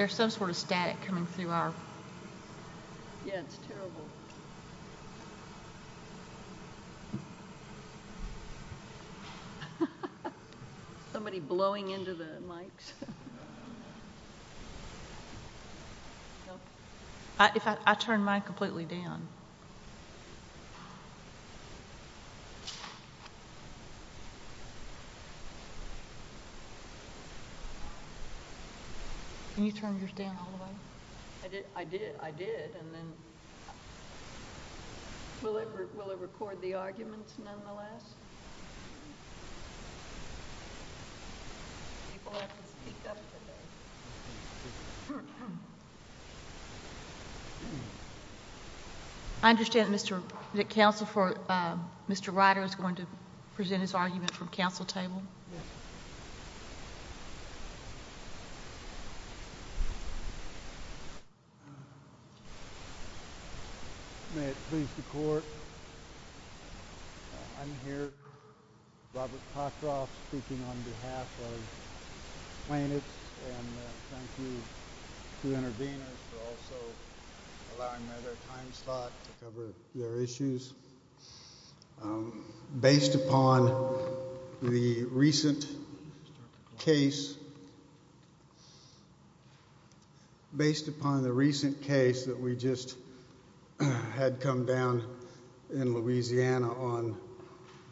Yeah, it's terrible. Somebody blowing into the mics. If I turn my completely down. Can you turn yours down all the way? I did. I did. I did. And then Will it record the arguments nonetheless? I understand Mr. Council for Mr. Ryder is going to present his argument from council table. May it please the court. I'm here. Robert Cockcroft speaking on behalf of Planets and thank you to interveners for also allowing me to have a time slot to cover their recent case that we just had come down in Louisiana on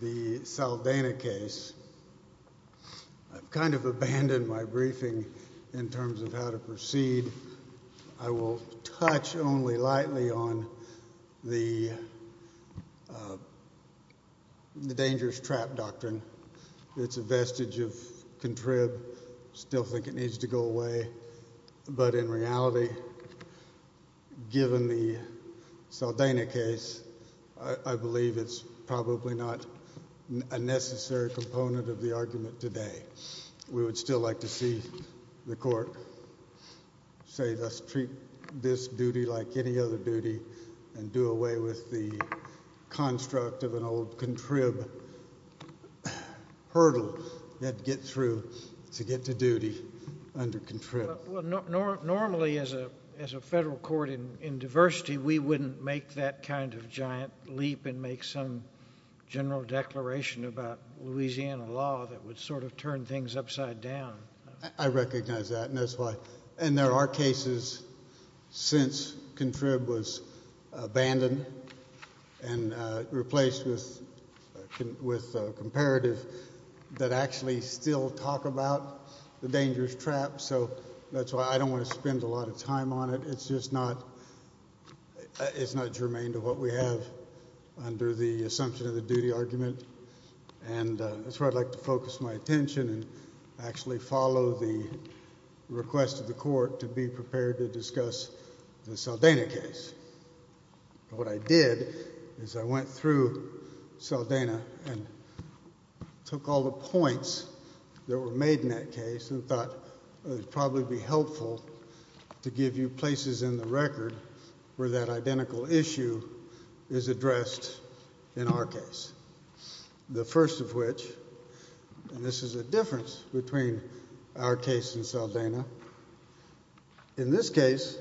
the Saldana case. I've kind of abandoned my briefing in terms of how to proceed. I will touch only lightly on the the dangerous trap doctrine. It's a vestige of contrived still think it needs to go away. But in reality, given the Saldana case, I believe it's probably not a necessary component of the argument today. We would still like to see the court. Save us treat this duty like any other duty and do away with the construct of an old contrived hurdle that get through to get to duty under contrived. Normally as a as a federal court in diversity, we wouldn't make that kind of giant leap and make some general declaration about Louisiana law that would sort of turn things upside down. I recognize that and that's why and there are cases since contrived was abandoned and replaced with with comparative that actually still talk about the dangerous trap. So that's why I don't want to spend a lot of time on it. It's just not it's not germane to what we have under the assumption of the duty argument and that's what I'd like to focus my attention and actually follow the request of the court to be prepared to discuss the Saldana case. What I did is I went through Saldana and took all the points that were made in that case and thought it would probably be helpful to give you places in the record where that identical issue is addressed in our case. The first of which this is a difference between our case and Saldana. In this case,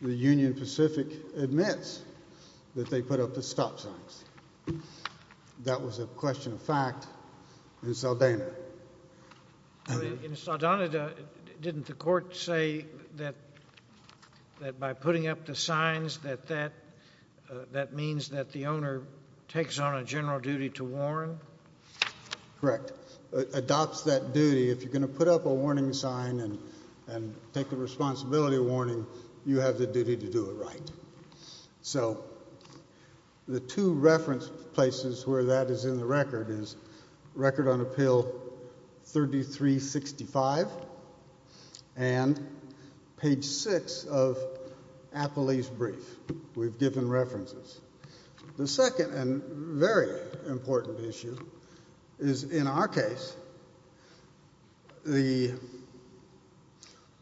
the Union Pacific admits that they put up the stop signs. That was a question of fact in Saldana. In Saldana, didn't the court say that that by putting up the signs that that that means that the owner takes on a general duty to warn? Correct. Adopts that duty. If you're going to put up a warning sign and and take the responsibility warning, you have the duty to do it right. So the two reference places where that is in the record is record on appeal 3365 and page 6 of Apolli's brief. We've given references. The second and very important issue is in our case, the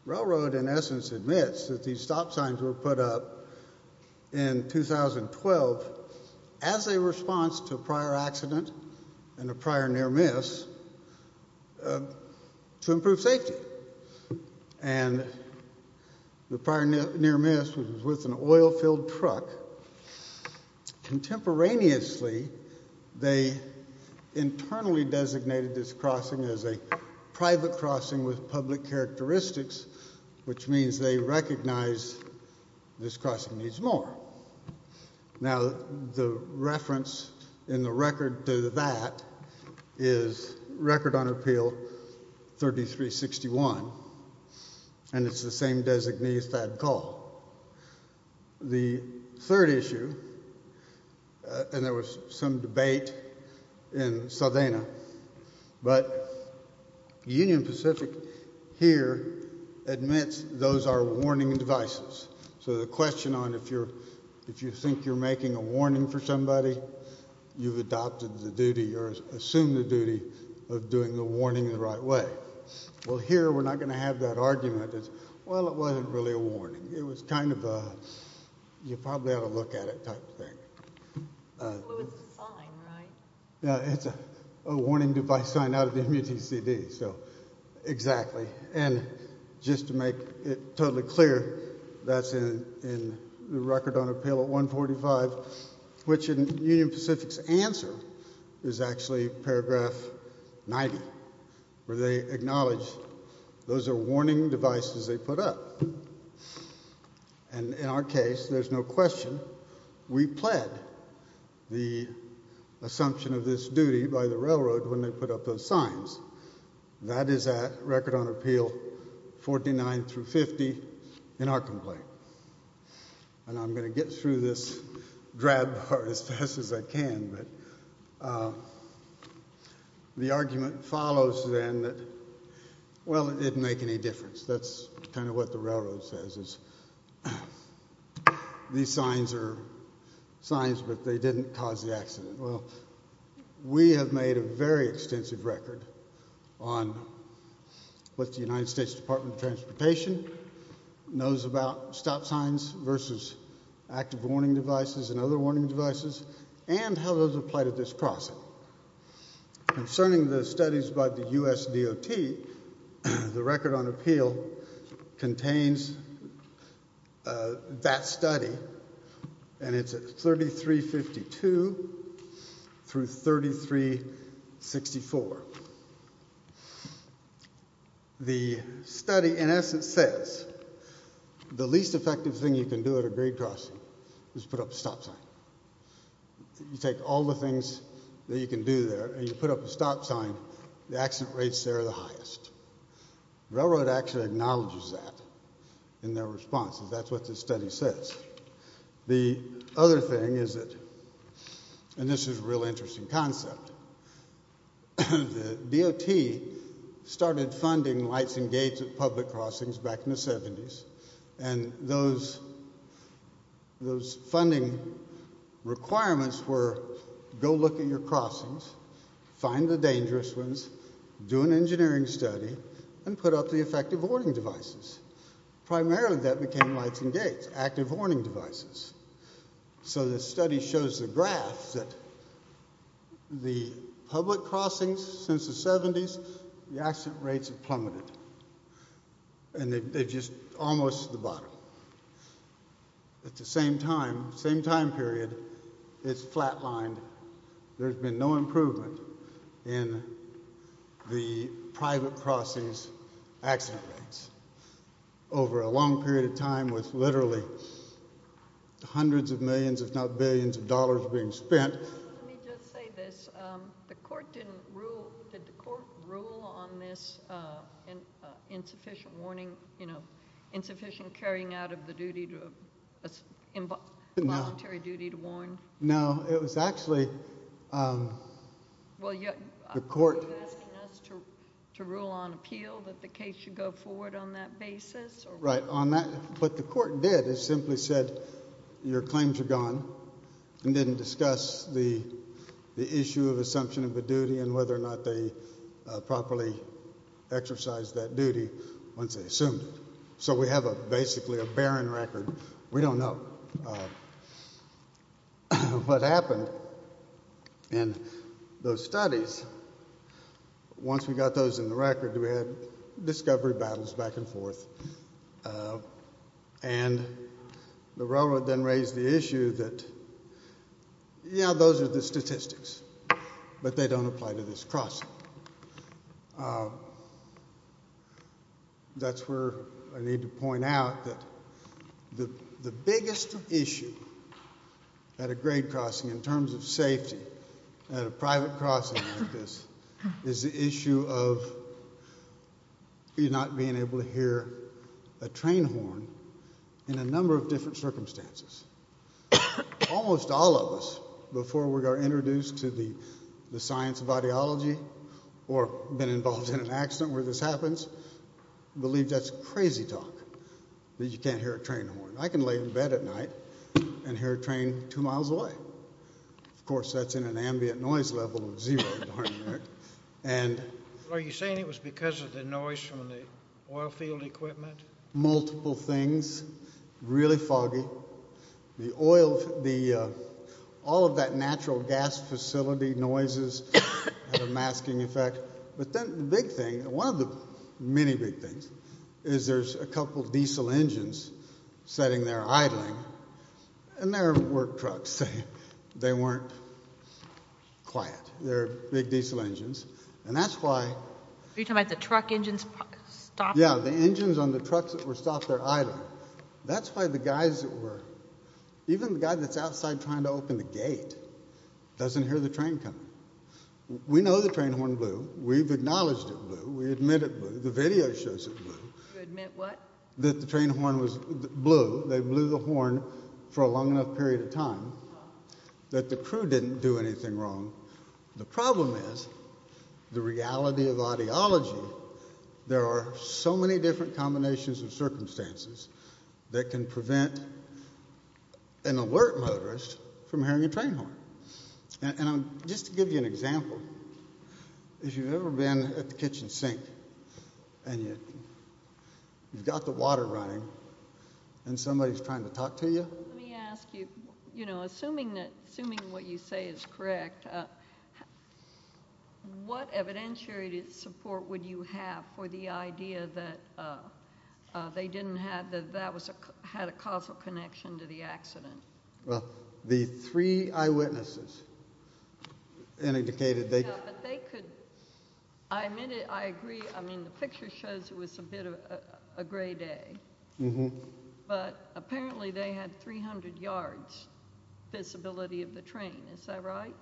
railroad in essence admits that these stop signs were put up in 2012 as a response to a prior accident and a prior near-miss to improve safety and the prior near-miss was with an oil-filled truck. Contemporaneously, they internally designated this crossing as a private crossing with public characteristics, which means they recognize this crossing needs more. Now, the reference in the record to that is record on appeal 3361 and it's the same designee as that call. The third issue, and there was some debate in Sardinia, but Union Pacific here admits those are warning devices. So the question on if you're if you think you're making a warning for somebody, you've adopted the duty or assumed the duty of doing the warning the right way. Well, here we're not going to have that argument. Well, it wasn't really a warning. It was kind of a you probably ought to look at it type of thing. It's a warning device sign out of the MUTCD, so exactly. And just to make it totally clear, that's in the record on appeal 145, which in Union Pacific's answer is actually paragraph 90, where they acknowledge those are warning devices they put up. And in our case, there's no question we pled the assumption of this duty by the railroad when they put up those signs. That is at record on appeal 49 through 50 in our complaint. And I'm going to get through this drab part as fast as I can, but the argument follows then that, well, it didn't make any difference. That's kind of what the railroad says is these signs are signs, but they didn't cause the accident. Well, we have made a very extensive record on what the United States Department of Transportation knows about stop signs versus active warning devices and other warning devices, and how those apply to this process. Concerning the studies by the U.S. DOT, the record on appeal contains that study, and it's at 3352 through 3364. The study, in essence, says the least effective thing you can do at a grade crossing is put up a stop sign. You take all the things that you can do there, and you put up a stop sign, the accident rates there are the highest. Railroad actually acknowledges that in their response. That's what this study says. The other thing is that, and this is a real interesting concept, the DOT started funding lights and gates at public crossings back in the 70s, and those funding requirements were go look at your crossings, find the dangerous ones, do an engineering study, and put up the effective warning devices. Primarily that became lights and gates, active warning devices. So the study shows the graph that the public crossings since the 70s, the accident rates have plummeted, and they're just almost to the bottom. At the same time, same time period, it's flat lined. There's been no improvement in the private crossings accident rates. Over a long period of time with literally hundreds of millions, if not billions of dollars being spent. Let me just say this. The court didn't rule, did the court rule on this insufficient warning, insufficient carrying out of the duty, voluntary duty to warn? No. It was actually the court. So you're asking us to rule on appeal that the case should go forward on that basis? Right. On that, what the court did is simply said your claims are gone, and didn't discuss the issue of assumption of a duty and whether or not they properly exercised that duty once they assumed it. So we have a basically a barren record. We don't know what happened in those studies. Once we got those in the record, we had discovery battles back and forth. And the railroad then raised the issue that, yeah, those are the statistics, but they don't apply to this crossing. That's where I need to point out that the biggest issue at a grade crossing in terms of safety at a private crossing like this is the issue of you not being able to hear a train horn in a number of different circumstances. Almost all of us, before we are introduced to the science of audiology or been involved in an accident where this happens, believe that's crazy talk that you can't hear a train horn. I can lay in bed at night and hear a train two miles away. Of course, that's in an ambient noise level of zero, darn it. Are you saying it was because of the noise from the oil field equipment? Multiple things. Really foggy. The oil, all of that natural gas facility noises had a masking effect. But then the big thing, one of the many big things, is there's a couple of people sitting there idling, and they're work trucks, so they weren't quiet. They're big diesel engines. And that's why- Are you talking about the truck engines stopped? Yeah, the engines on the trucks that were stopped, they're idling. That's why the guys that were, even the guy that's outside trying to open the gate doesn't hear the train coming. We know the train horn blew. We've acknowledged it blew. We admit it blew. The video shows it blew. You admit what? That the train horn blew. They blew the horn for a long enough period of time that the crew didn't do anything wrong. The problem is, the reality of audiology, there are so many different combinations of circumstances that can prevent an alert motorist from hearing a train horn. And just to give you an example, if you've ever been at the kitchen sink, and you've got the water running, and somebody's trying to talk to you- Let me ask you, assuming what you say is correct, what evidentiary support would you have for the idea that they didn't have, that that had a causal connection to the accident? Well, the three eyewitnesses indicated they- No, but they could- I admit it, I agree. I mean, the picture shows it was a bit of a gray day. But apparently, they had 300 yards visibility of the train. Is that right?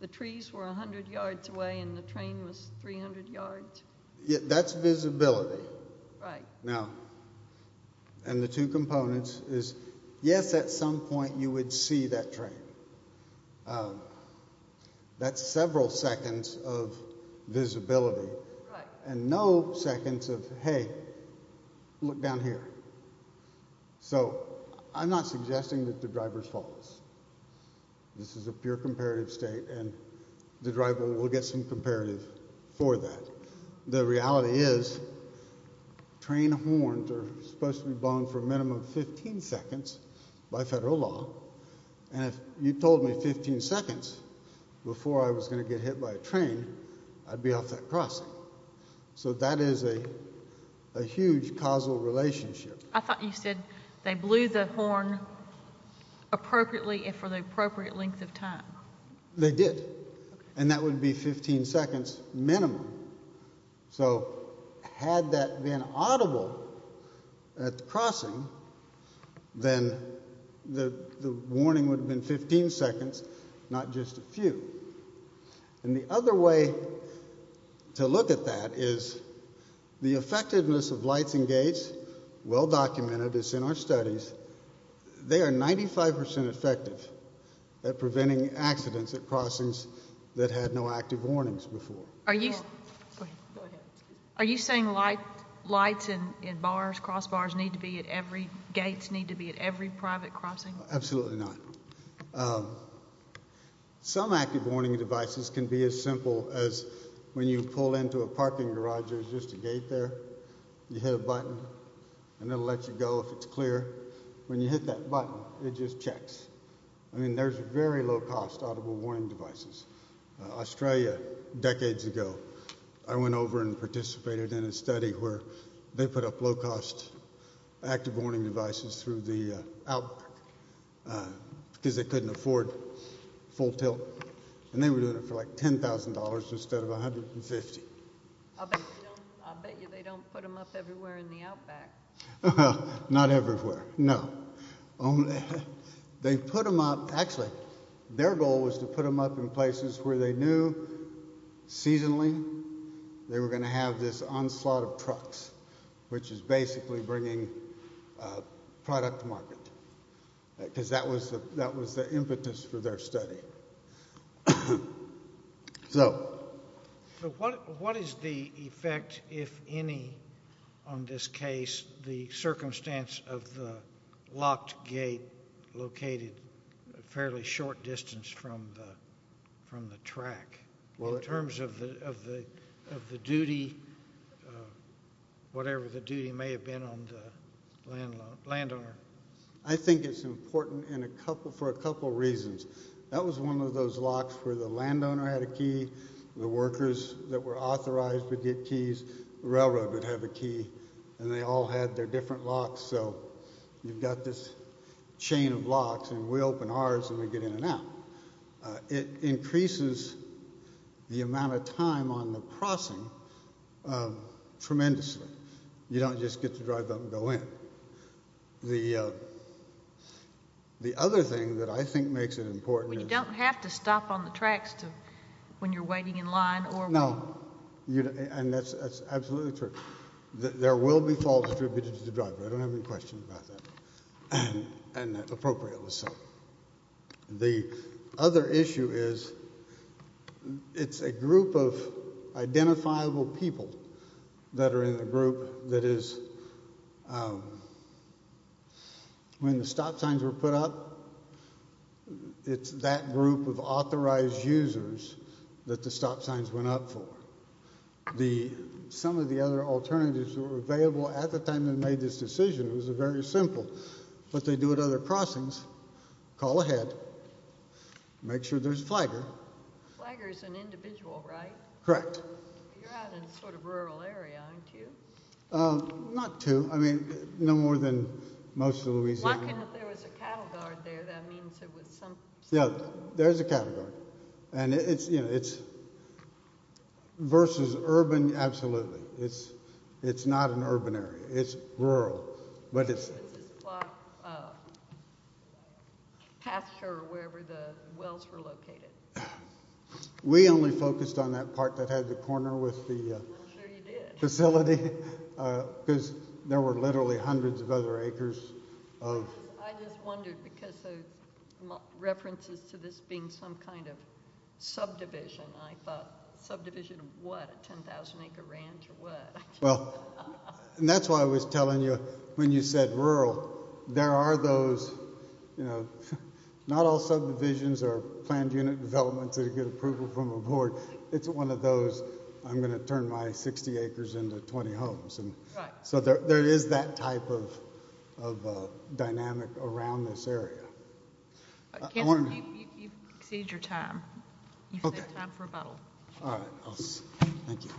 The trees were 100 yards away, and the train was 300 yards? That's visibility. Right. Now, and the two components is, yes, at some point, you would see that train. That's several seconds of visibility, and no seconds of, hey, look down here. So I'm not suggesting that the driver's false. This is a pure comparative state, and the driver will get some comparative for that. The reality is, train horns are supposed to be blown for a minimum of 15 seconds by federal law, and if you told me 15 seconds before I was going to get hit by a train, I'd be off that crossing. So that is a huge causal relationship. I thought you said they blew the horn appropriately, if for the appropriate length of time. They did. And that would be 15 seconds minimum. So had that been audible at the crossing, then the warning would have been 15 seconds, not just a few. And the other way to look at that is, the effectiveness of lights and gates, well-documented, it's in our studies, they are 95% effective at preventing accidents at crossings that had no active warnings before. Are you saying lights and bars, crossbars need to be at every, gates need to be at every private crossing? Absolutely not. Some active warning devices can be as simple as when you pull into a parking garage, there's just a gate there. You hit a button, and it'll let you go if it's clear. When you hit that button, it just checks. I mean, there's very low-cost audible warning devices. Australia, decades ago, I went over and participated in a study where they put up low-cost active warning devices through the outback because they couldn't afford full tilt. And they were doing it for like $10,000 instead of $150. I'll bet you they don't put them up everywhere in the outback. Not everywhere, no. They put them up, actually, their goal was to put them up in places where they knew seasonally they were going to have this onslaught of trucks which is basically bringing product to market because that was the impetus for their study. So. What is the effect, if any, on this case, the circumstance of the locked gate located fairly short distance from the track? In terms of the duty, whatever the duty may have been on the landowner? I think it's important for a couple reasons. That was one of those locks where the landowner had a key, the workers that were authorized would get keys, the railroad would have a key, and they all had their different locks. So you've got this chain of locks and we open ours and we get in and out. It increases the amount of time on the crossing tremendously. You don't just get to drive up and go in. The other thing that I think makes it important is. Well, you don't have to stop on the tracks when you're waiting in line or. No. And that's absolutely true. There will be fault distributed to the driver. I don't have any questions about that. And that appropriately so. The other issue is. It's a group of identifiable people that are in the group that is. When the stop signs were put up. It's that group of authorized users that the stop signs went up for. Some of the other alternatives were available at the time they made this decision. It was very simple. What they do at other crossings. Call ahead. Make sure there's a flagger. Flagger is an individual, right? Correct. You're out in a sort of rural area, aren't you? Not too. I mean, no more than most of Louisiana. There was a cattle guard there. That means it was some. Yeah, there is a cattle guard. And it's, you know, it's. Versus urban. Absolutely. It's it's not an urban area. It's rural. But it's. Pasture wherever the wells were located. We only focused on that part that had the corner with the facility. Because there were literally hundreds of other acres of. I just wondered because. References to this being some kind of subdivision. I thought subdivision of what? 10,000 acre ranch or what? Well, and that's why I was telling you when you said rural. There are those, you know, not all subdivisions are planned unit development to get approval from a board. It's one of those. I'm going to turn my 60 acres into 20 homes. And so there is that type of of dynamic around this area. I want to. Exceed your time. Okay. Time for a bottle. All right. Thank you.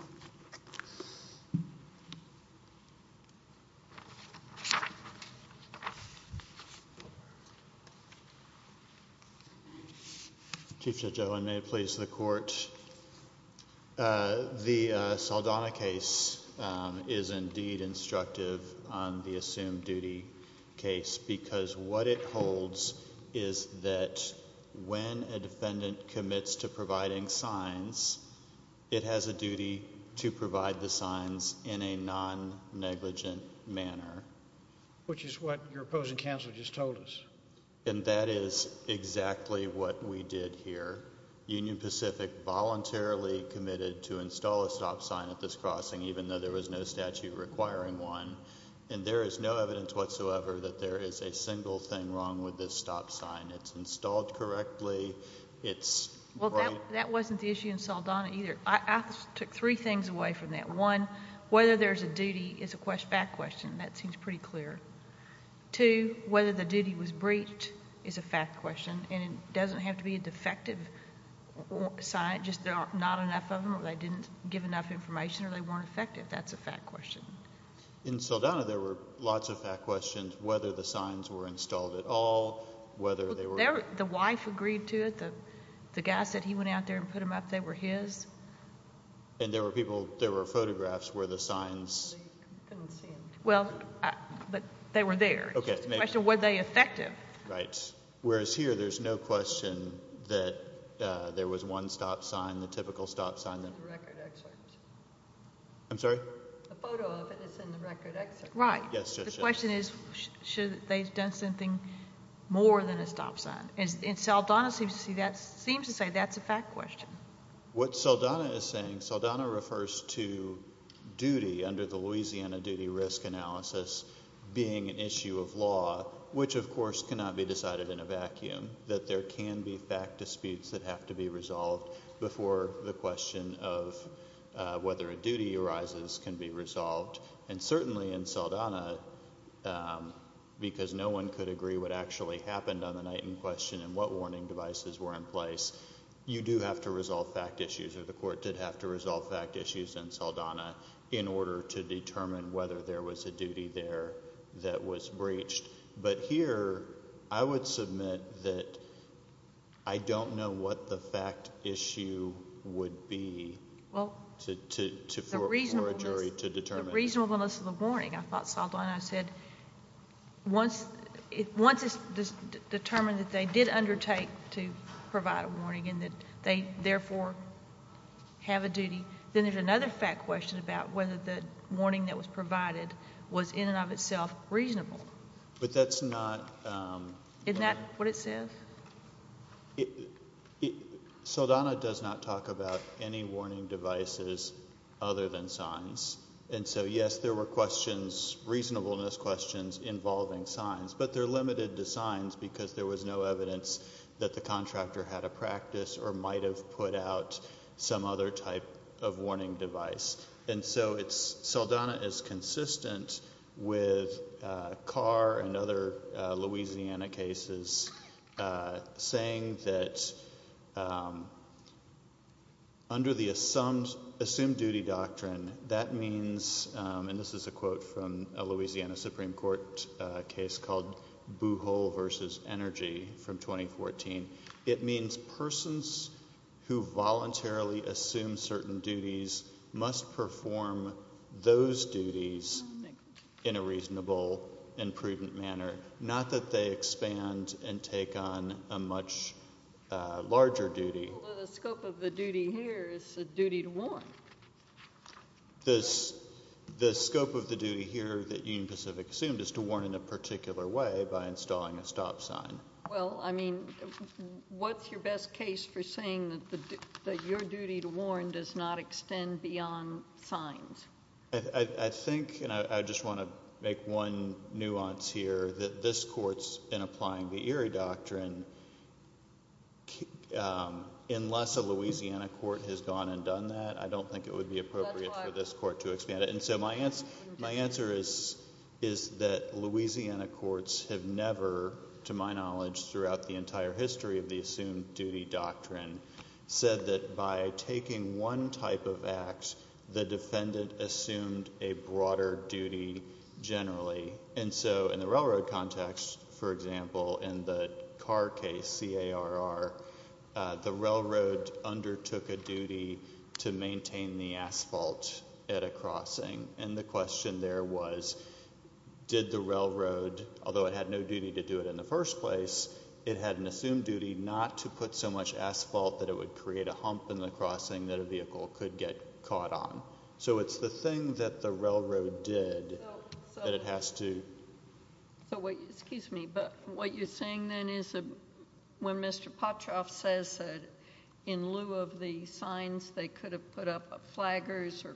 Chief Judge Owen, may it please the court. The Saldana case is indeed instructive on the assumed duty case. Because what it holds is that when a defendant commits to providing signs. It has a duty to provide the signs in a non negligent manner. Which is what your opposing counsel just told us. And that is exactly what we did here. Union Pacific voluntarily committed to install a stop sign at this crossing even though there was no statute requiring one. And there is no evidence whatsoever that there is a single thing wrong with this stop sign. It's installed correctly. It's. Well, that wasn't the issue in Saldana either. I took three things away from that. One, whether there's a duty is a fact question. That seems pretty clear. Two, whether the duty was breached is a fact question. And it doesn't have to be a defective sign. Just not enough of them or they didn't give enough information or they weren't effective. That's a fact question. In Saldana, there were lots of fact questions. Whether the signs were installed at all. Whether they were. The wife agreed to it. The guy said he went out there and put them up. They were his. And there were people. There were photographs where the signs. Well, but they were there. Okay. The question, were they effective? Right. Whereas here, there's no question that there was one stop sign. The typical stop sign. It's in the record excerpt. I'm sorry? The photo of it is in the record excerpt. Right. Yes, yes, yes. The question is, should they have done something more than a stop sign? And Saldana seems to say that's a fact question. What Saldana is saying, Saldana refers to duty under the Louisiana duty risk analysis being an issue of law. Which, of course, cannot be decided in a vacuum. That there can be fact disputes that have to be resolved before the question of whether a duty arises can be resolved. And certainly in Saldana, because no one could agree what actually happened on the night in question and what warning devices were in place, you do have to resolve fact issues. The court did have to resolve fact issues in Saldana in order to determine whether there was a duty there that was breached. But here, I would submit that I don't know what the fact issue would be for a jury to determine. The reasonableness of the warning, I thought Saldana said, once it's determined that they did undertake to provide a warning and that they therefore have a duty, then there's another fact question about whether the warning that was provided was in and of itself reasonable. But that's not- Isn't that what it says? Saldana does not talk about any warning devices other than signs. And so yes, there were questions, reasonableness questions involving signs. But they're limited to signs because there was no evidence that the contractor had a practice or might have put out some other type of warning device. And so Saldana is consistent with Carr and other Louisiana cases saying that under the assumed duty doctrine, that means, and this is a quote from a Louisiana Supreme Court case called Buhol versus Energy from 2014. It means persons who voluntarily assume certain duties must perform those duties in a reasonable and prudent manner. Not that they expand and take on a much larger duty. Although the scope of the duty here is the duty to warn. The scope of the duty here that Union Pacific assumed is to warn in a particular way by installing a stop sign. Well, I mean, what's your best case for saying that your duty to warn does not extend beyond signs? I think, and I just want to make one nuance here, that this court's been applying the Erie Doctrine unless a Louisiana court has gone and done that. I don't think it would be appropriate for this court to expand it. And so my answer is that Louisiana courts have never, to my knowledge, throughout the entire history of the assumed duty doctrine, said that by taking one type of act, the defendant assumed a broader duty generally. And so in the railroad context, for example, in the Carr case, C-A-R-R, the railroad undertook a duty to maintain the asphalt at a crossing. And the question there was, did the railroad, although it had no duty to do it in the first place, it had an assumed duty not to put so much asphalt that it would create a hump in the crossing that a vehicle could get caught on. So it's the thing that the railroad did that it has to. So what, excuse me, but what you're saying then is when Mr. Popchoff says that in lieu of the signs, they could have put up a flaggers or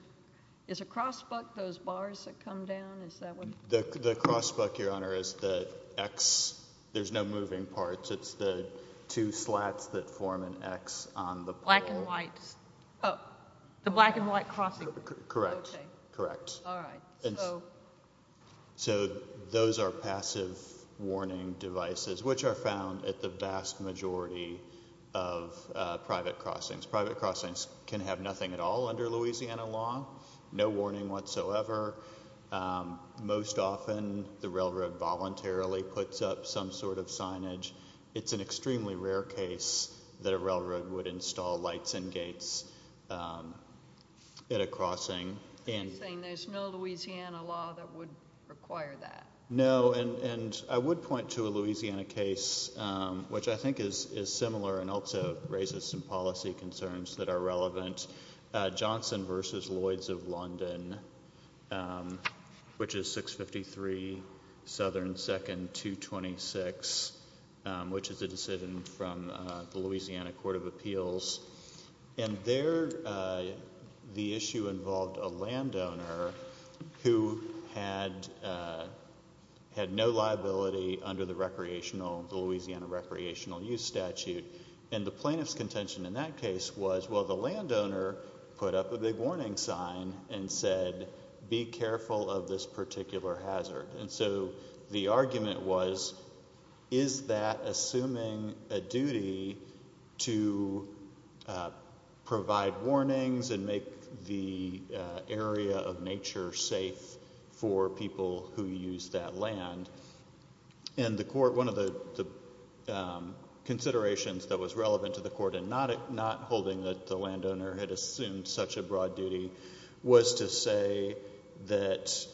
is a cross buck those bars that come down? Is that what? The cross buck, Your Honor, is the X. There's no moving parts. It's the two slats that form an X on the pole. Black and white. The black and white crossing. Correct. Correct. All right. So those are passive warning devices, which are found at the vast majority of private crossings. Private crossings can have nothing at all under Louisiana law. No warning whatsoever. Most often, the railroad voluntarily puts up some sort of signage. It's an extremely rare case that a railroad would install lights and gates at a crossing. And saying there's no Louisiana law that would require that. No. And I would point to a Louisiana case, which I think is similar and also raises some policy concerns that are relevant. Johnson versus Lloyds of London, which is 653 Southern 2nd 226, which is a decision from the Louisiana Court of Appeals. And there, the issue involved a landowner who had no liability under the Louisiana recreational use statute. And the plaintiff's contention in that case was, well, the landowner put up a big warning sign and said, be careful of this particular hazard. And so the argument was, is that assuming a duty to provide warnings and make the area of nature safe for people who use that land? And the court, one of the considerations that was relevant to the court in not holding that the landowner had assumed such a broad duty, was to say that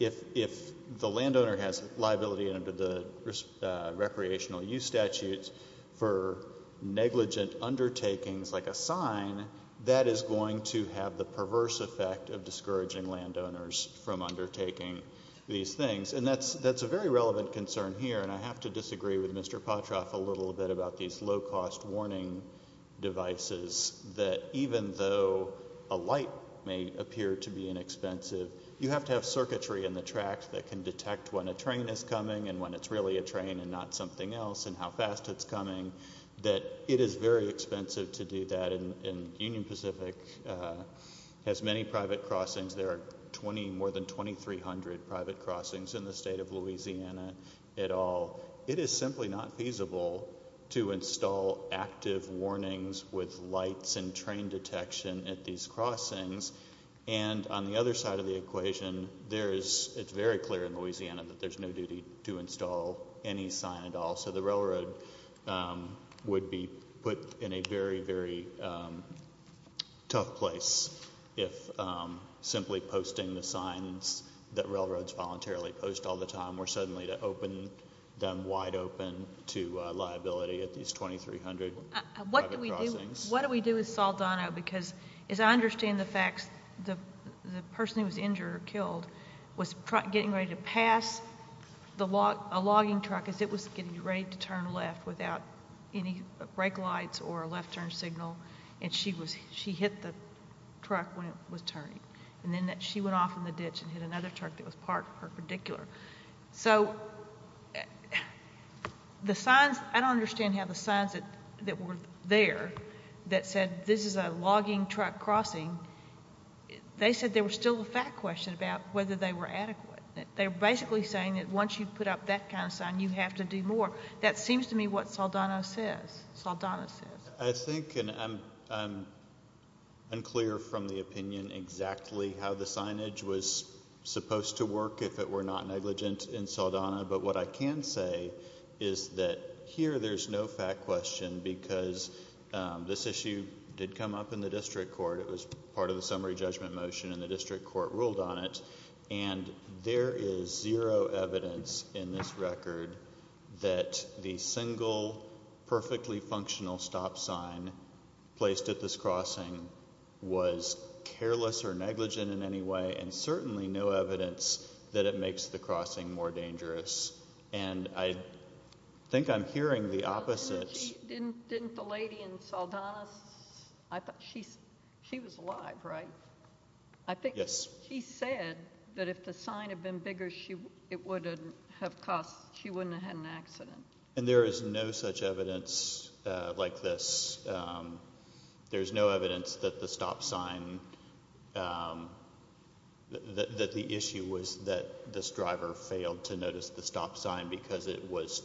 if the landowner has liability under the recreational use statutes for negligent undertakings like a sign, that is going to have the perverse effect of discouraging landowners from undertaking these things. And that's a very relevant concern here. And I have to disagree with Mr. Potroff a little bit about these low-cost warning devices that even though a light may appear to be inexpensive, you have to have circuitry in the tracks that can detect when a train is coming and when it's really a train and not something else, and how fast it's coming, that it is very expensive to do that. And Union Pacific has many private crossings. There are more than 2,300 private crossings in the state of Louisiana at all. It is simply not feasible to install active warnings with lights and train detection at these crossings. And on the other side of the equation, it's very clear in Louisiana that there's no duty to install any sign at all. So the railroad would be put in a very, very tough place if simply posting the signs that railroads voluntarily post all the time were suddenly to open them wide open to liability at these 2,300 private crossings. What do we do with Saldana? Because as I understand the facts, the person who was injured or killed was getting ready to pass a logging truck as it was getting ready to turn left without any brake lights or a left turn signal. And she hit the truck when it was turning. And then she went off in the ditch and hit another truck that was parked perpendicular. So the signs, I don't understand how the signs that were there that said this is a logging truck crossing, they said there was still a fact question about whether they were adequate. They were basically saying that once you put up that kind of sign, you have to do more. That seems to me what Saldana says. I think and I'm unclear from the opinion exactly how the signage was supposed to work if it were not negligent in Saldana. But what I can say is that here there's no fact question because this issue did come up in the district court. It was part of the summary judgment motion and the district court ruled on it. And there is zero evidence in this record that the single perfectly functional stop sign placed at this crossing was careless or negligent in any way. And certainly no evidence that it makes the crossing more dangerous. And I think I'm hearing the opposite. Didn't the lady in Saldana's, I thought she was alive, right? I think she said that if the sign had been bigger, it wouldn't have caused, she wouldn't have had an accident. And there is no such evidence like this. There's no evidence that the stop sign, that the issue was that this driver failed to notice the stop sign because it was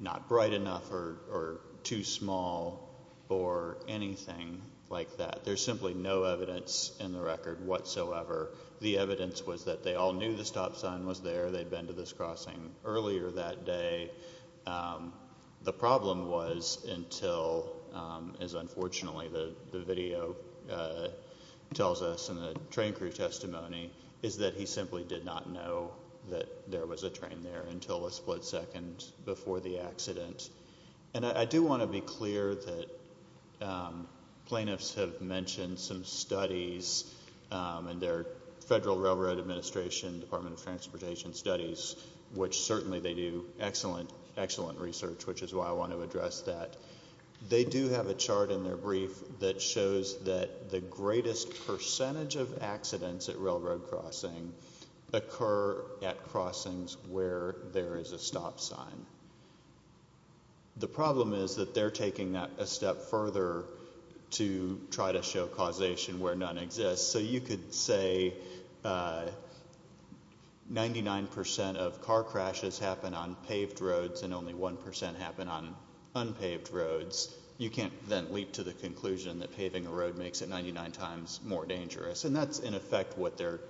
not bright enough or too small or anything like that. There's simply no evidence in the record whatsoever. The evidence was that they all knew the stop sign was there. They'd been to this crossing earlier that day. The problem was until, as unfortunately the video tells us in the train crew testimony, is that he simply did not know that there was a train there until a split second before the accident. And I do want to be clear that plaintiffs have mentioned some studies in their Federal Railroad Administration Department of Transportation Studies, which certainly they do excellent, excellent research, which is why I want to address that. They do have a chart in their brief that shows that the greatest percentage of accidents at railroad crossing occur at crossings where there is a stop sign. The problem is that they're taking that a step further to try to show causation where none exists. So you could say 99% of car crashes happen on paved roads and only 1% happen on unpaved roads. You can't then leap to the conclusion that paving a road makes it 99 times more dangerous. And that's, in effect, what they're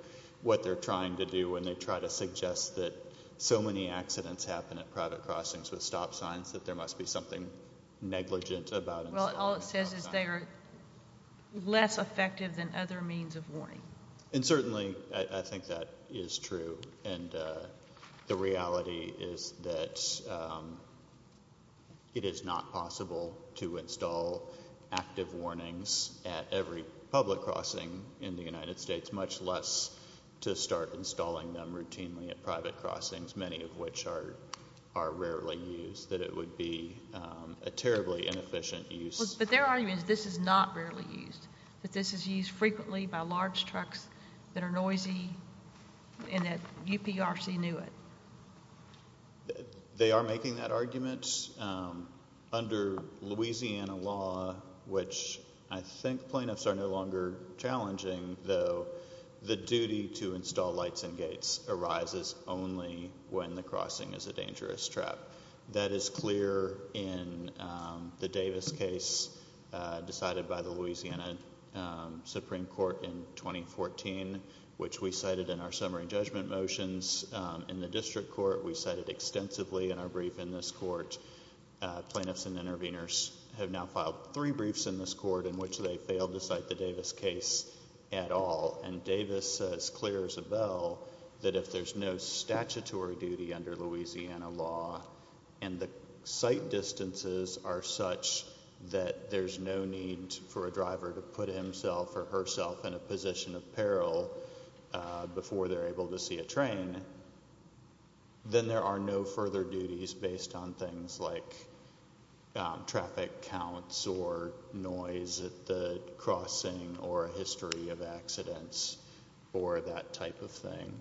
trying to do when they try to suggest that so many accidents happen at private crossings with stop signs that there must be something negligent about installing a stop sign. Well, all it says is they are less effective than other means of warning. And certainly I think that is true. And the reality is that it is not possible to install active warnings at every public crossing in the United States, much less to start installing them routinely at private crossings, many of which are rarely used, that it would be a terribly inefficient use. But their argument is this is not rarely used, that this is used frequently by large trucks that are noisy and that UPRC knew it. They are making that argument. Under Louisiana law, which I think plaintiffs are no longer challenging, though, the duty to install lights and gates arises only when the crossing is a dangerous trap. That is clear in the Davis case decided by the Louisiana Supreme Court in 2014, which we cited in our summary judgment motions. In the district court, we cited extensively in our brief in this court. Plaintiffs and interveners have now filed three briefs in this court in which they failed to cite the Davis case at all. And Davis says clear as a bell that if there is no statutory duty under Louisiana law and the sight distances are such that there is no need for a driver to put himself or herself in a position of peril before they're able to see a train, then there are no further duties based on things like traffic counts or noise at the crossing or a history of accidents or that type of thing.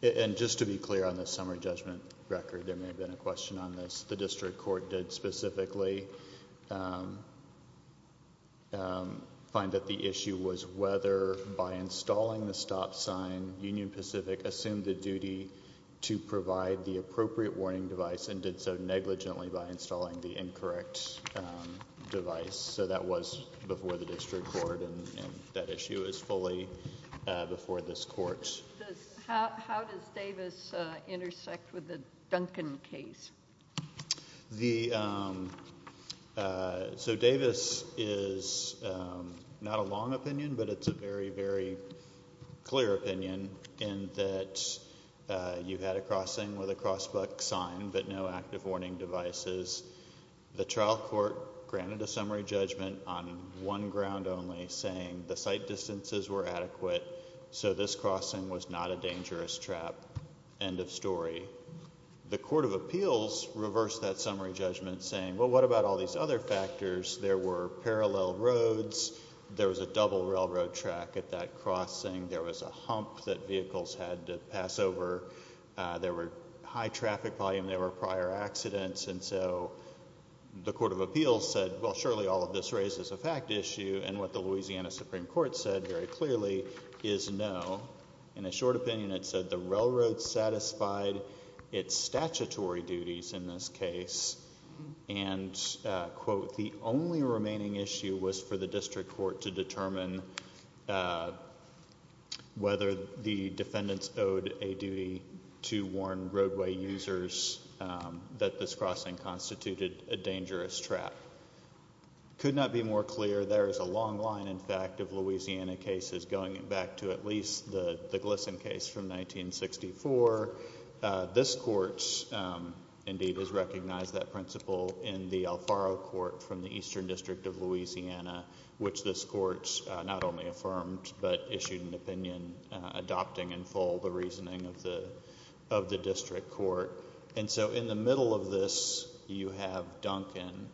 And just to be clear on the summary judgment record, there may have been a question on this. The district court did specifically find that the issue was whether by installing the stop sign, Union Pacific assumed the duty to provide the appropriate warning device and did so negligently by installing the incorrect device. So that was before the district court and that issue is fully before this court. How does Davis intersect with the Duncan case? So Davis is not a long opinion but it's a very, very clear opinion in that you had a crossing with a cross buck sign but no active warning devices. The trial court granted a summary judgment on one ground only saying the sight distances were and the crossing was not a dangerous trap, end of story. The court of appeals reversed that summary judgment saying, well what about all these other factors? There were parallel roads, there was a double railroad track at that crossing, there was a hump that vehicles had to pass over, there were high traffic volume, there were prior accidents and so the court of appeals said, well surely all of this raises a fact issue and what the Louisiana Supreme Court said very clearly is no in a short opinion it said the railroad satisfied its statutory duties in this case and quote the only remaining issue was for the district court to determine whether the defendants owed a duty to warn roadway users that this crossing constituted a dangerous trap. Could not be more clear, there is a long line in fact of Louisiana cases going back to at least the Gleason case from 1964. This court indeed has recognized that principle in the Alfaro Court from the Eastern District of Louisiana which this court not only affirmed but issued an opinion adopting in full the reasoning of the district court. And so in the middle of this you have Duncan.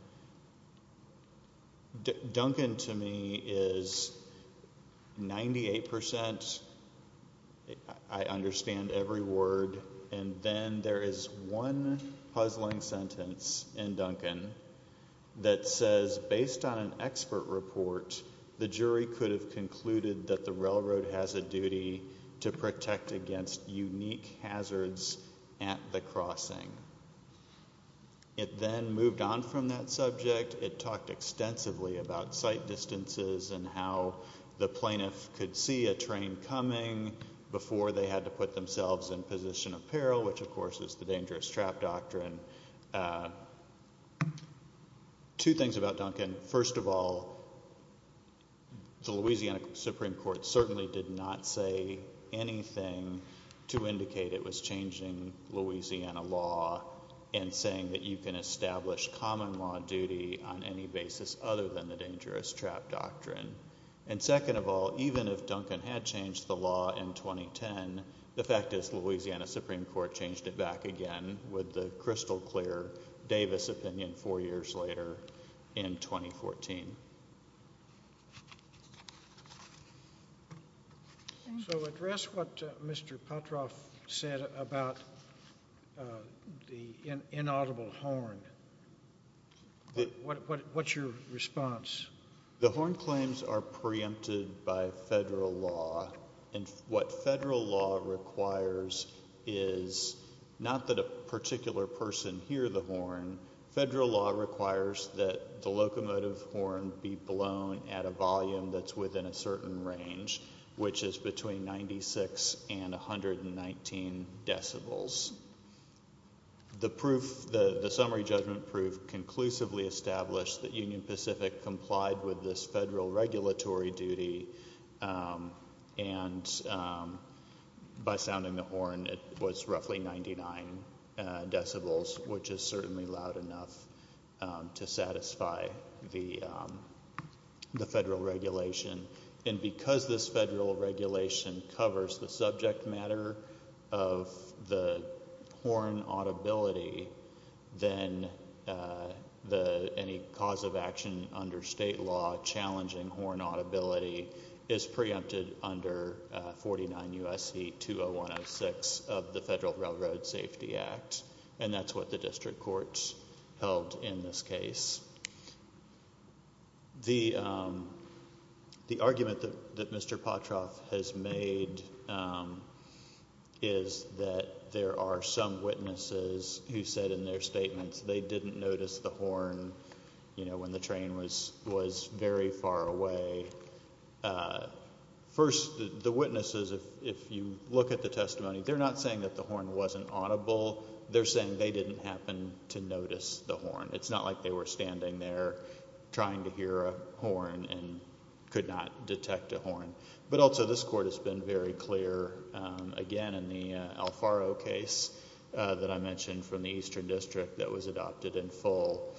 Duncan to me is 98% I understand every word and then there is one puzzling sentence in Duncan that says based on an expert report the jury could have concluded that the railroad has a duty to protect against unique hazards at the crossing. It then moved on from that subject, it talked extensively about sight distances and how the plaintiff could see a train coming before they had to put themselves in position of peril which of course is the dangerous trap doctrine. Two things about Duncan, first of all the Louisiana Supreme Court certainly did not say anything to indicate it was changing Louisiana law and saying that you can establish common law duty on any basis other than the dangerous trap doctrine. And second of all, even if Duncan had changed the law in 2010, the fact is Louisiana Supreme Court changed it back again with the crystal clear Davis opinion four years later in 2014. So address what Mr. Putroff said about the inaudible horn. What's your response? The horn claims are preempted by federal law and what federal law requires is not that a particular person hear the horn, federal law requires that the locomotive horn be blown at a volume that's within a certain range which is between 96 and 119 decibels. The proof, the summary judgment proof conclusively established that Union Pacific complied with this federal regulatory duty and by sounding the horn it was roughly 99 decibels which is certainly loud enough to satisfy the federal regulation. And because this federal regulation covers the subject matter of the horn audibility, then any cause of action under state law challenging horn audibility is preempted under 49 U.S.C. 20106 of the Federal Railroad Safety Act. And that's what the district courts held in this case. The argument that Mr. Putroff has made is that there are some witnesses who said in their statements they didn't notice the horn, you know, when the train was very far away. First, the witnesses, if you look at the testimony, they're not saying that the horn wasn't audible, they're saying they didn't happen to notice the horn. It's not like they were standing there trying to hear a horn and could not detect a horn. But also this court has been very clear again in the Alfaro case that I mentioned from the Eastern District that was adopted in full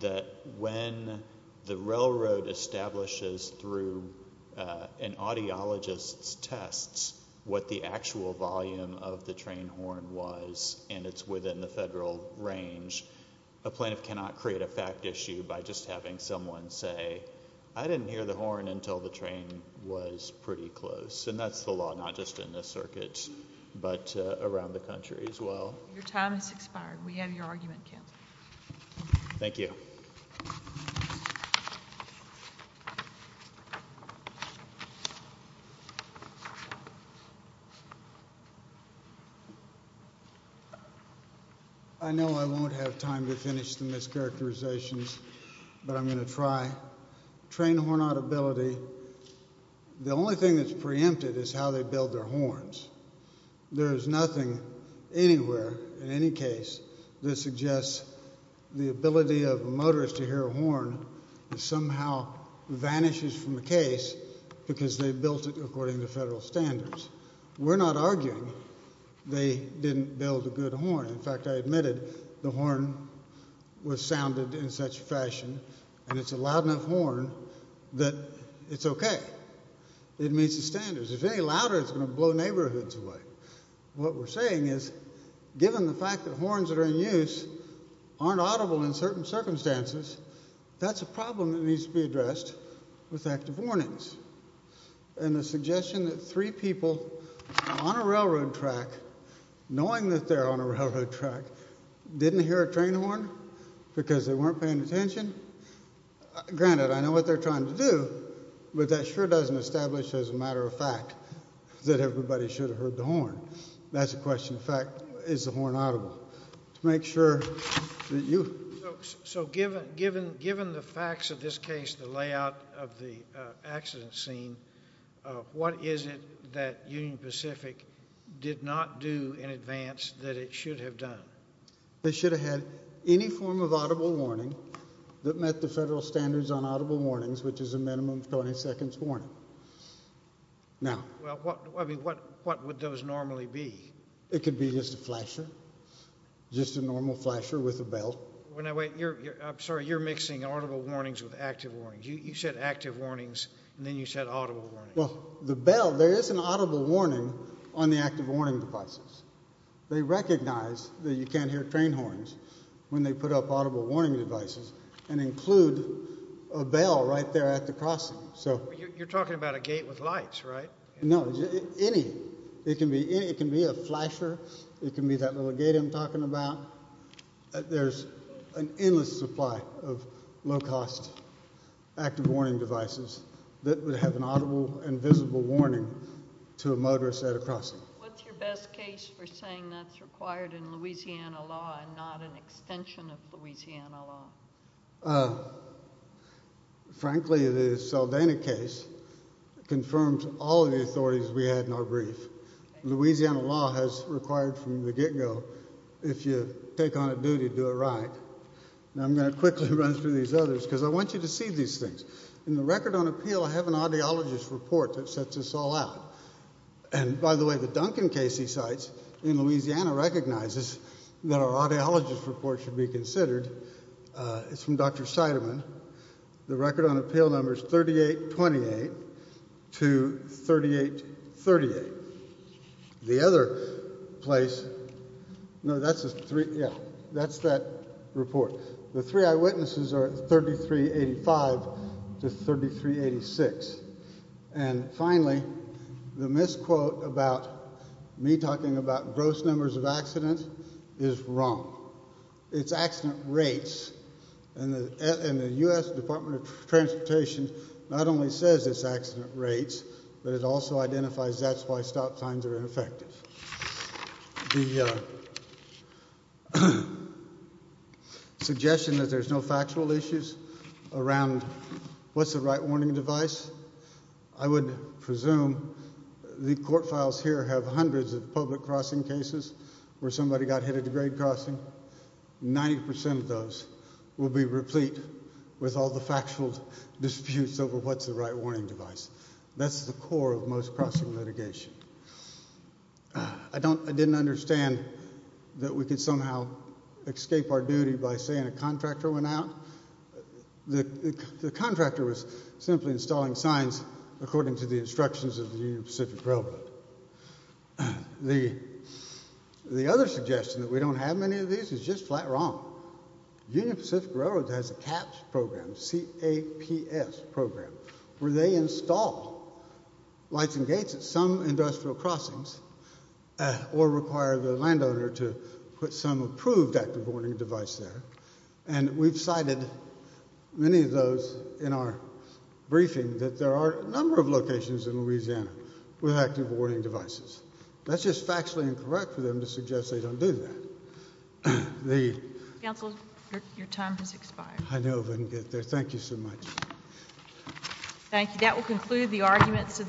that when the railroad establishes through an audiologist's tests what the actual volume of the train horn was and it's within the federal range, a plaintiff cannot create a fact issue by just having someone say I didn't hear the horn until the train was pretty close. And that's the law not just in this circuit but around the country as well. Your time has expired. We have your argument canceled. Thank you. I know I won't have time to finish the mischaracterizations but I'm going to try. Train horn audibility, the only thing that's preempted is how they build their horns. There is nothing anywhere in any case that suggests the ability of a motorist to hear a horn that somehow vanishes from the case because they built it according to federal standards. We're not arguing they didn't build a good horn. In fact, I admitted the horn was sounded in such fashion and it's a loud enough horn that it's okay, it meets the standards. If it's any louder, it's going to blow neighborhoods away. What we're saying is given the fact that horns that are in use aren't audible in certain circumstances, that's a problem that needs to be addressed with active warnings. And the suggestion that three people on a railroad track, knowing that they're on a railroad track, didn't hear a train horn because they weren't paying attention, granted I know what they're trying to do but that sure doesn't establish as a matter of fact that everybody should have heard the horn. That's a question of fact. Is the horn audible? To make sure that you. So given the facts of this case, the layout of the accident scene, what is it that Union Pacific did not do in advance that it should have done? They should have had any form of audible warning that met the federal standards on audible warnings, which is a minimum of 20 seconds warning. Now. Well, I mean, what would those normally be? It could be just a flasher. Just a normal flasher with a bell. When I wait, you're, I'm sorry, you're mixing audible warnings with active warnings. You said active warnings and then you said audible warnings. Well, the bell, there is an audible warning on the active warning devices. They recognize that you can't hear train horns when they put up audible warning devices and include a bell right there at the crossing. So you're talking about a gate with lights, right? No, any, it can be, it can be a flasher. It can be that little gate I'm talking about. There's an endless supply of low cost active warning devices that would have an audible and visible warning to a motorist at a crossing. What's your best case for saying that's required in Louisiana law and not an extension of Louisiana law? Frankly, the Saldana case confirms all of the authorities we had in our brief. Louisiana law has required from the get go, if you take on a duty, do it right. Now I'm going to quickly run through these others because I want you to see these things. In the record on appeal, I have an audiologist report that sets us all out. And by the way, the Duncan Casey sites in Louisiana recognizes that our audiologist report should be considered. It's from Dr. Seidman. The record on appeal number is 3828 to 3838. The other place, no, that's a three, yeah, that's that report. The three eyewitnesses are 3385 to 3386. And finally, the misquote about me talking about gross numbers of accidents is wrong. It's accident rates and the U.S. Department of Transportation not only says it's accident rates, but it also identifies that's why stop signs are ineffective. The suggestion that there's no factual issues around what's the right warning device, I would presume the court files here have hundreds of public crossing cases where somebody got hit at a grade crossing. Ninety percent of those will be replete with all the factual disputes over what's the right warning device. That's the core of most crossing litigation. I don't, I didn't understand that we could somehow escape our duty by saying a contractor went out. The contractor was simply installing signs according to the instructions of the Union Pacific Railroad. The other suggestion that we don't have many of these is just flat wrong. Union Pacific Railroad has a CAPS program, C-A-P-S program, where they install lights and gates at some industrial crossings or require the landowner to put some approved active warning device there. And we've cited many of those in our briefing that there are a number of locations in Louisiana with active warning devices. That's just factually incorrect for them to suggest they don't do that. The. Council, your time has expired. I know, but thank you so much. Thank you. That will conclude the arguments.